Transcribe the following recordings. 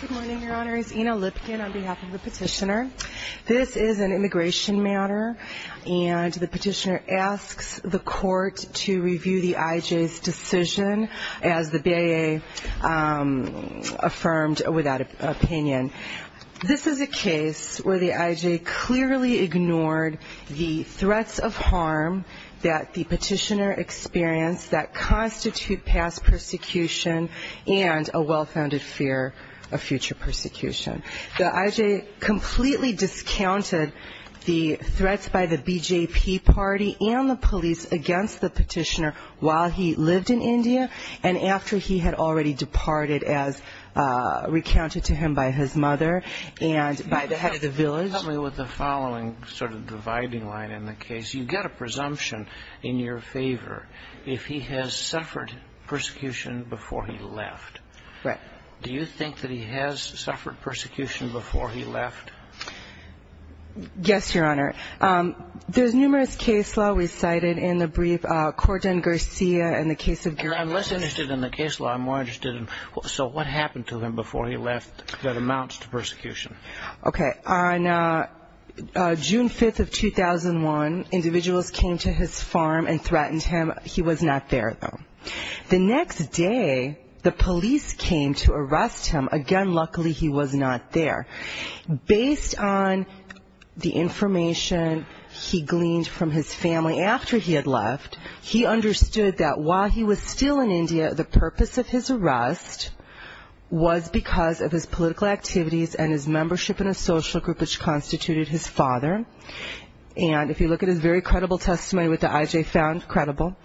Good morning, Your Honors. Ina Lipkin on behalf of the petitioner. This is an immigration matter, and the petitioner asks the court to review the IJ's decision as the BIA affirmed with that opinion. This is a case where the IJ clearly ignored the threats of harm that the petitioner experienced that constitute past persecution and a well-founded fear. The IJ completely discounted the threats by the BJP party and the police against the petitioner while he lived in India and after he had already departed as recounted to him by his mother and by the head of the village. Do you think that he has suffered persecution before he left? Yes, Your Honor. There's numerous case law recited in the brief. Corden-Garcia and the case of Garibaldi. I'm less interested in the case law. I'm more interested in so what happened to him before he left that amounts to persecution? Okay. On June 5th of 2001, individuals came to his farm and threatened him. He was not there, though. The next day, the police came to arrest him. Again, luckily he was not there. Based on the information he gleaned from his family after he had left, he understood that while he was still in India, the purpose of his arrest was because of his political activities and his membership in a social group which constituted his father. And if you look at his very credible testimony, what the IJ found credible,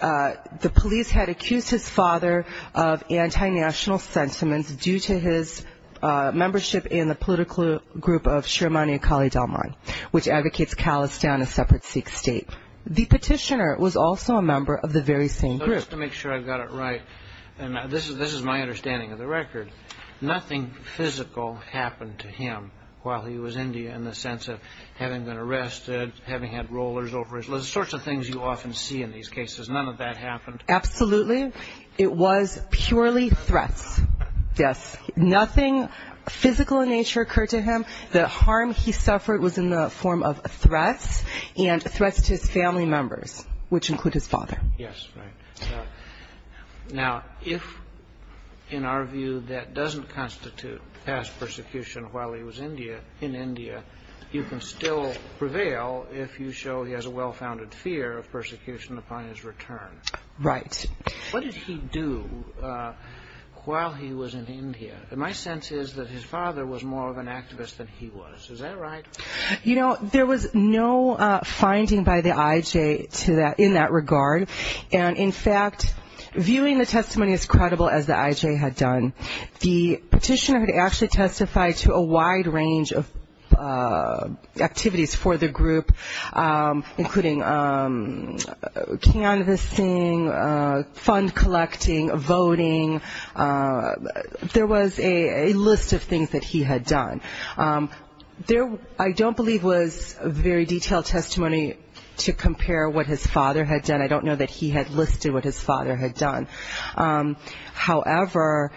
the police had accused his father of anti-national sentiments due to his membership in the political group of Shirmani Akali Dalman, which advocates callous down a separate Sikh state. The petitioner was also a member of the very same group. Just to make sure I've got it right, and this is my understanding of the record, nothing physical happened to him while he was in India in the sense of having been arrested, having had rollers over his legs, the sorts of things you often see in these cases. None of that happened? Absolutely. It was purely threats. Yes. Nothing physical in nature occurred to him. The harm he suffered was in the form of threats and threats to his family members, which include his father. Yes, right. Now, if in our view that doesn't constitute past persecution while he was in India, you can still prevail if you show he has a well-founded fear of persecution upon his return. Right. What did he do while he was in India? My sense is that his father was more of an activist than he was. Is that right? You know, there was no finding by the IJ in that regard, and in fact, viewing the testimony as credible as the IJ had done, the petitioner had actually testified to a wide range of activities for the group, including canvassing, fund collecting, voting. There was a list of things that he had done. There, I don't believe, was very detailed testimony to compare what his father had done. I don't know that he had listed what his father had done. However,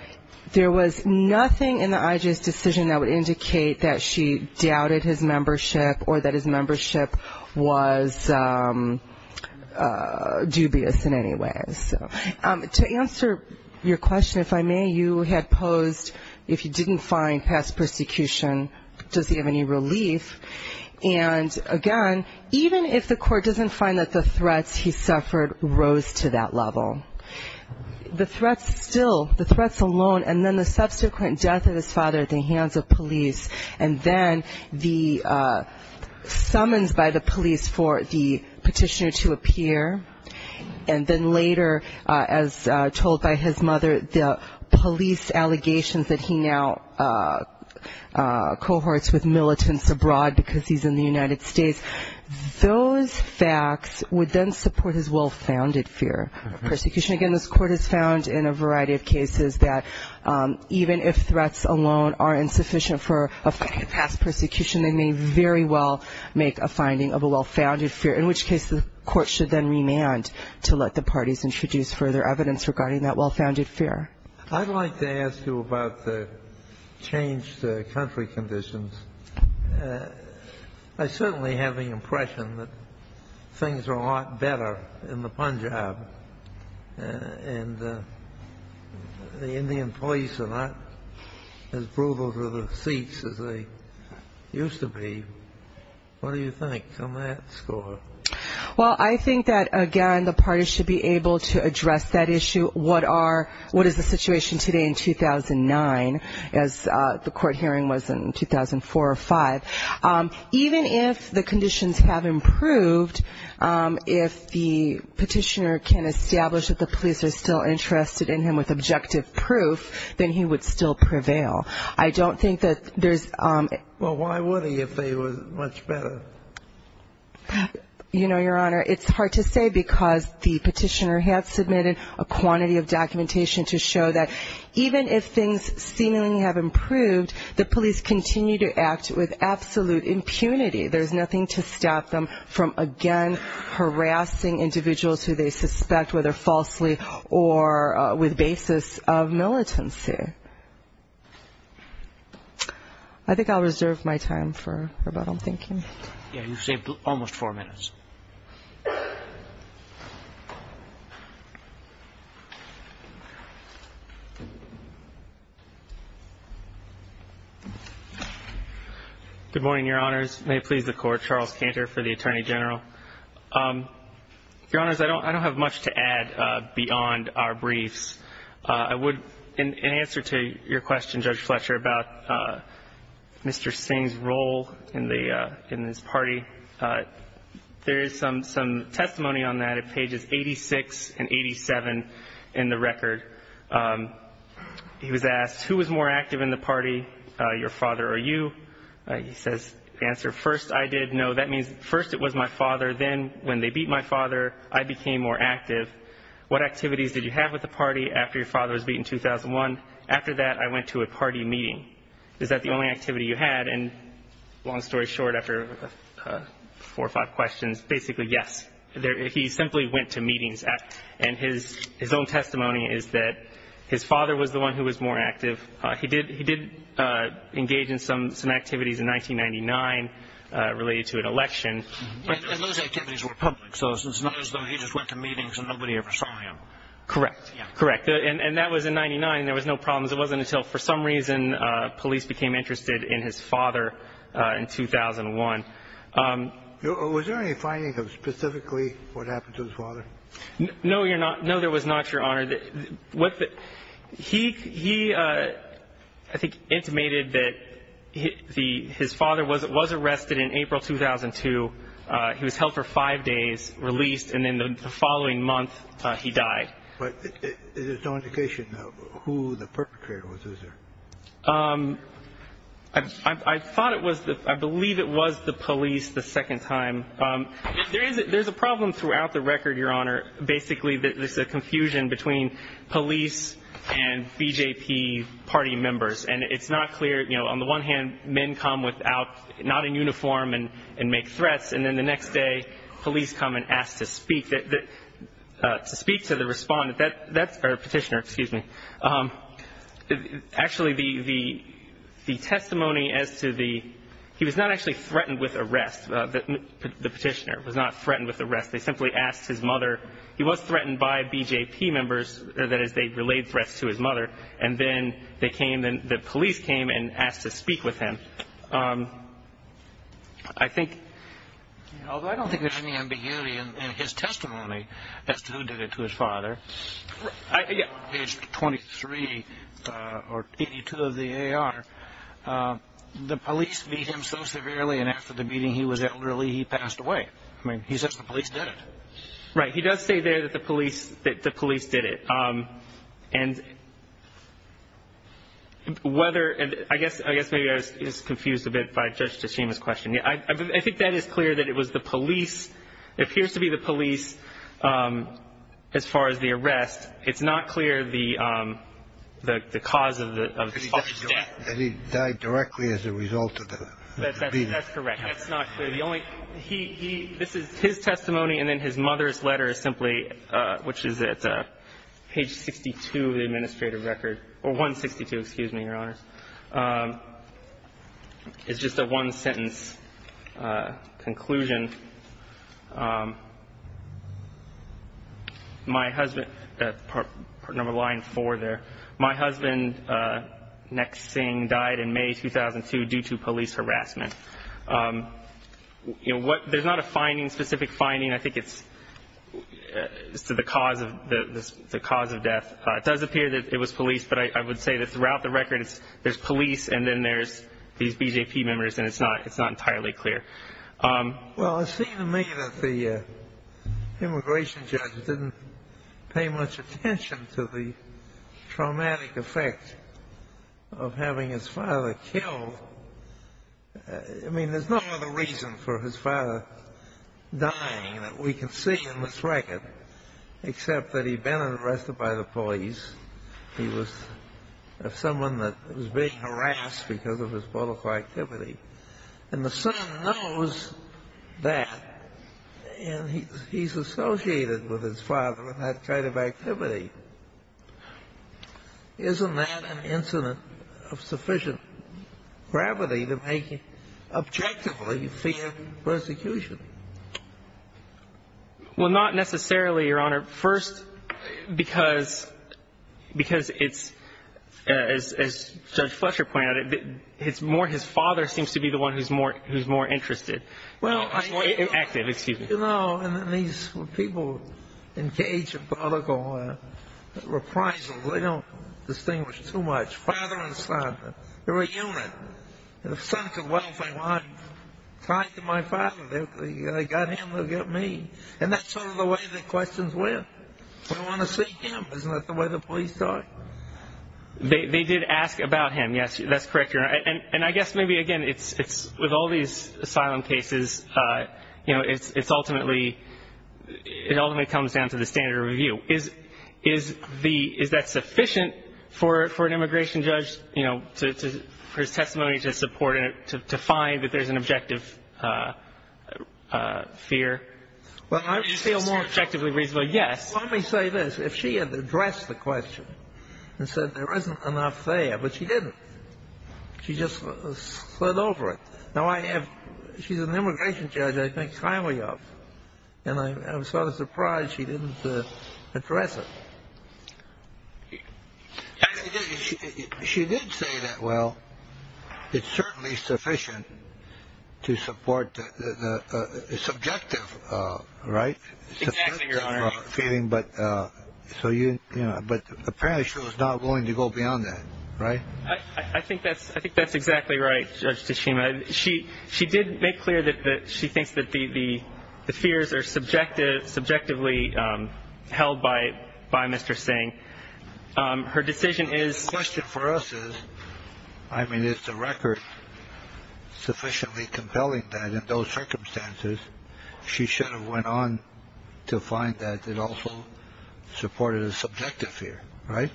there was nothing in the IJ's decision that would indicate that she doubted his membership or that his membership was dubious in any way. To answer your question, if I may, you had posed if he didn't find past persecution, does he have any relief? And again, even if the court doesn't find that the threats he suffered rose to that level, the threats still, the threats alone, and then the subsequent death of his father at the hands of police, and then the summons by the police for the petitioner to appear, and then later, as told by his mother, the police allegations that he now cohorts with militants abroad because he's in the United States, those facts would then support his well-founded fear of persecution. Again, this Court has found in a variety of cases that even if threats alone are insufficient for past persecution, they may very well make a finding of a well-founded fear, in which case the Court should then remand to let the parties introduce further evidence regarding that well-founded fear. I'd like to ask you about the changed country conditions. I certainly have the impression that things are a lot better in the Punjab, and the Indian police are not as brutal to the seats as they used to be. What do you think on that score? Well, I think that, again, the parties should be able to address that issue. What is the situation today in 2009, as the court hearing was in 2004 or 2005? Even if the conditions have improved, if the petitioner can establish that the police are still interested in him with objective proof, then he would still prevail. I don't think that there's... Well, why would he if they were much better? You know, Your Honor, it's hard to say because the petitioner had submitted a quantity of documentation to show that even if things seemingly have improved, the police continue to act with absolute impunity. There's nothing to stop them from, again, harassing individuals who they suspect, whether falsely or with basis of militancy. I think I'll reserve my time for rebuttal. Thank you. Yeah, you've saved almost four minutes. Good morning, Your Honors. May it please the Court. Charles Cantor for the Attorney General. Your Honors, I don't have much to add beyond our briefs. In answer to your question, Judge Fletcher, about Mr. Singh's role in this party, there is some testimony on that at pages 86 and 87 in the record. He was asked, who was more active in the party, your father or you? He says, answer, first I did, no, that means first it was my father, then when they beat my father, I became more active. What activities did you have with the party after your father was beaten in 2001? After that, I went to a party meeting. Is that the only activity you had? Long story short, after four or five questions, basically, yes. He simply went to meetings. His own testimony is that his father was the one who was more active. He did engage in some activities in 1999 related to an election. Those activities were public, so it's not as though he just went to meetings and nobody ever saw him. Correct. Correct. And that was in 1999. There was no problems. It wasn't until for some reason police became interested in his father in 2001. Was there any finding of specifically what happened to his father? No, there was not, Your Honor. He, I think, intimated that his father was arrested in April 2002. He was held for five days, released, and then the following month, he died. But there's no indication of who the perpetrator was, is there? I believe it was the police the second time. There's a problem throughout the record, Your Honor. Basically, there's a confusion between police and BJP party members. And it's not clear, you know, on the one hand, men come without, not in uniform and make threats. And then the next day, police come and ask to speak to the respondent, or petitioner, excuse me. Actually, the testimony as to the, he was not actually threatened with arrest. The petitioner was not threatened with arrest. They simply asked his mother. He was threatened by BJP members. That is, they relayed threats to his mother. And then they came, the police came and asked to speak with him. I think, although I don't think there's any ambiguity in his testimony as to who did it to his father. On page 23, or 82 of the AR, the police beat him so severely, and after the beating, he was elderly, he passed away. I mean, he says the police did it. Right, he does say there that the police did it. And whether, I guess maybe I was just confused a bit by Judge Tshima's question. I think that is clear, that it was the police, it appears to be the police, as far as the arrest. It's not clear the cause of his father's death. That he died directly as a result of the beating. That's correct. That's not clear. The only, he, this is his testimony, and then his mother's letter is simply, which is at page 62 of the administrative record, or 162, excuse me, Your Honors. It's just a one-sentence conclusion. My husband, number line four there, my husband, Nek Singh, died in May 2002 due to police harassment. You know, there's not a finding, specific finding, I think it's to the cause of death. It does appear that it was police, but I would say that throughout the record, there's police, and then there's these BJP members, and it's not entirely clear. Well, it seems to me that the immigration judge didn't pay much attention to the traumatic effect of having his father killed. I mean, there's no other reason for his father dying that we can see in this record, except that he'd been arrested by the police. He was someone that was being harassed because of his political activity. And the son knows that, and he's associated with his father in that kind of activity. Isn't that an incident of sufficient gravity to make him objectively fear persecution? Well, not necessarily, Your Honor. First, because it's, as Judge Fletcher pointed out, it's more his father seems to be the one who's more interested. Well, I... Active, excuse me. You know, and then these people engage in political reprisals. They don't distinguish too much. Father and son, they're a unit. The son could well say, well, I'm tied to my father. They got him, they'll get me. And that's sort of the way the questions went. We want to see him. Isn't that the way the police talk? They did ask about him, yes. That's correct, Your Honor. And I guess maybe, again, with all these asylum cases, you know, it ultimately comes down to the standard of review. Is that sufficient for an immigration judge, you know, for his testimony to support it, to find that there's an objective fear? Well, I feel more objectively reasonable, yes. Let me say this. If she had addressed the question and said there isn't enough there, but she didn't. She just slid over it. Now, I have... She's an immigration judge I think highly of, and I'm sort of surprised she didn't address it. She did say that, well, it's certainly sufficient to support the subjective, right? Exactly, Your Honor. But apparently she was not willing to go beyond that, right? I think that's exactly right, Judge Tashima. She did make clear that she thinks that the fears are subjectively held by Mr. Singh. Her decision is... The question for us is, I mean, is the record sufficiently compelling that in those circumstances she should have went on to find that it also supported a subjective fear, right?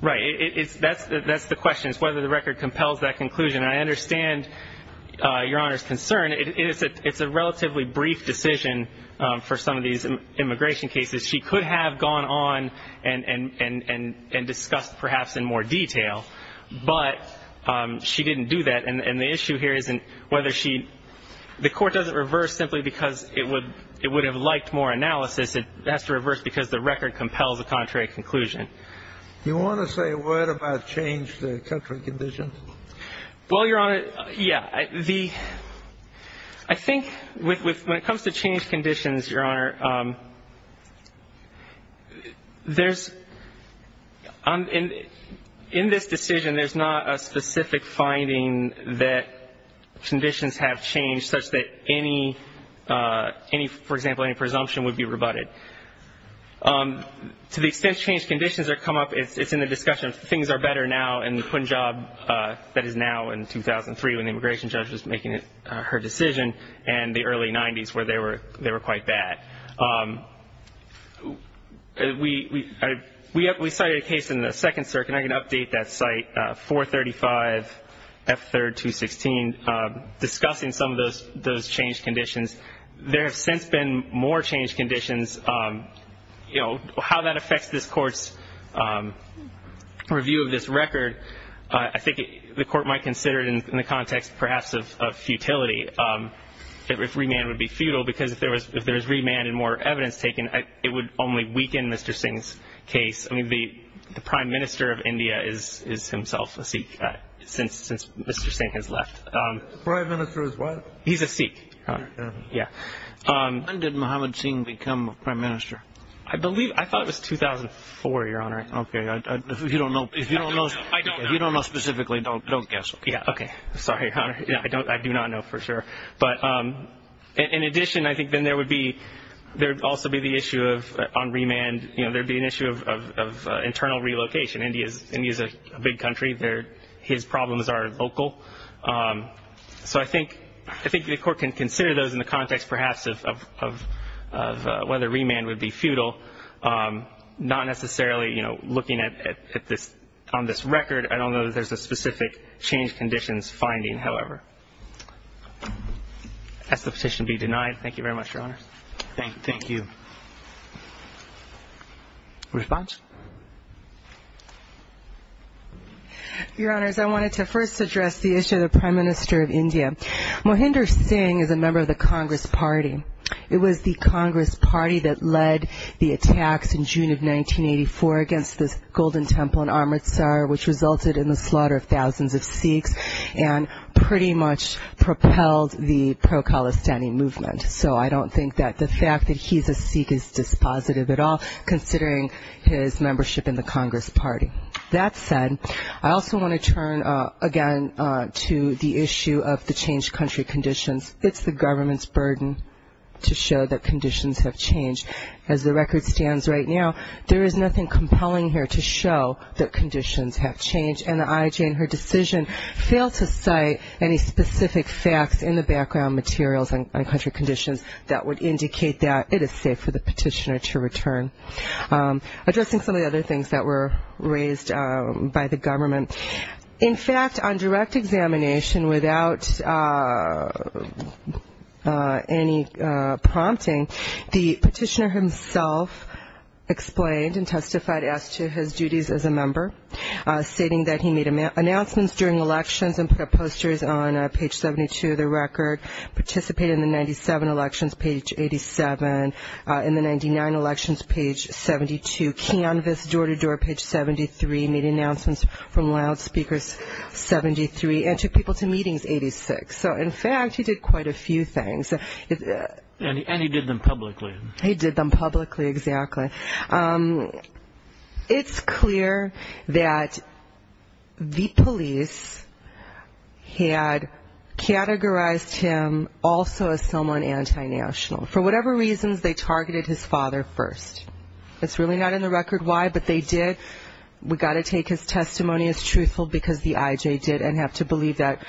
Right. That's the question, is whether the record compels that conclusion. And I understand Your Honor's concern. It's a relatively brief decision for some of these immigration cases. She could have gone on and discussed perhaps in more detail, but she didn't do that. And the issue here isn't whether she... The Court doesn't reverse simply because it would have liked more analysis. It has to reverse because the record compels a contrary conclusion. Do you want to say a word about change to country conditions? Well, Your Honor, yeah. The... I think when it comes to change conditions, Your Honor, there's... In this decision, there's not a specific finding that conditions have changed such that any, for example, any presumption would be rebutted. To the extent change conditions have come up, it's in the discussion of things are better now in the Punjab that is now in 2003 when the immigration judge was making her decision and the early 90s where they were quite bad. We cited a case in the Second Circuit, and I can update that site, 435F3216, discussing some of those change conditions. There have since been more change conditions. You know, how that affects this Court's review of this record, I think the Court might consider it in the context perhaps of futility, if remand would be futile. Because if there is remand and more evidence taken, it would only weaken Mr. Singh's case. I mean, the Prime Minister of India is himself a Sikh since Mr. Singh has left. The Prime Minister is what? He's a Sikh, Your Honor. Yeah. When did Mohammad Singh become Prime Minister? I believe... I thought it was 2004, Your Honor. Okay. If you don't know... I don't know. If you don't know specifically, don't guess. Yeah, okay. Sorry, Your Honor. I do not know for sure. But in addition, I think then there would also be the issue on remand. You know, there would be an issue of internal relocation. India is a big country. His problems are local. So I think the Court can consider those in the context perhaps of whether remand would be futile, not necessarily, you know, looking on this record. I don't know that there's a specific change conditions finding, however. Has the petition been denied? Thank you very much, Your Honor. Thank you. Response? Your Honors, I wanted to first address the issue of the Prime Minister of India. Mohinder Singh is a member of the Congress Party. It was the Congress Party that led the attacks in June of 1984 against the Golden Temple in Amritsar, which resulted in the slaughter of thousands of Sikhs and pretty much propelled the pro-Khalistani movement. So I don't think that the fact that he's a Sikh is dispositive at all, considering his membership in the Congress Party. That said, I also want to turn, again, to the issue of the changed country conditions. It's the government's burden to show that conditions have changed. As the record stands right now, there is nothing compelling here to show that conditions have changed, and the IJ in her decision failed to cite any specific facts in the background materials on country conditions that would indicate that it is safe for the petitioner to return. Addressing some of the other things that were raised by the government, In fact, on direct examination, without any prompting, the petitioner himself explained and testified as to his duties as a member, stating that he made announcements during elections and put up posters on page 72 of the record, participated in the 1997 elections, page 87, in the 1999 elections, page 72, canvassed door-to-door, page 73, made announcements from loudspeakers, 73, and took people to meetings, 86. So, in fact, he did quite a few things. And he did them publicly. He did them publicly, exactly. It's clear that the police had categorized him also as someone anti-national. For whatever reasons, they targeted his father first. It's really not in the record why, but they did. We've got to take his testimony as truthful, because the IJ did, and have to believe that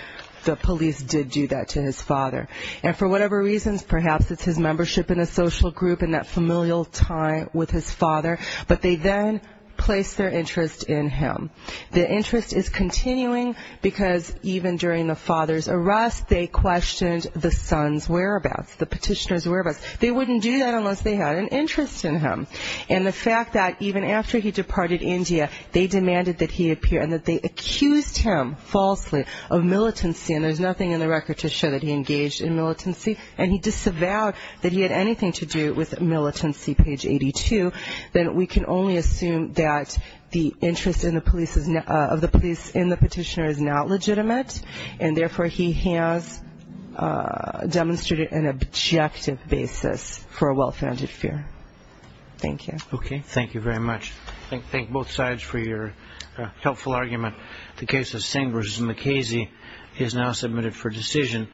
the police did do that to his father. And for whatever reasons, perhaps it's his membership in a social group and that familial tie with his father, but they then placed their interest in him. The interest is continuing, because even during the father's arrest, they questioned the son's whereabouts, the petitioner's whereabouts. They wouldn't do that unless they had an interest in him. And the fact that even after he departed India, they demanded that he appear and that they accused him falsely of militancy, and there's nothing in the record to show that he engaged in militancy, and he disavowed that he had anything to do with militancy, page 82. Then we can only assume that the interest of the police in the petitioner is not legitimate, and therefore he has demonstrated an objective basis for a well-founded fear. Thank you. Okay. Thank you very much. Thank both sides for your helpful argument. The case of Singh v. McKaysey is now submitted for decision.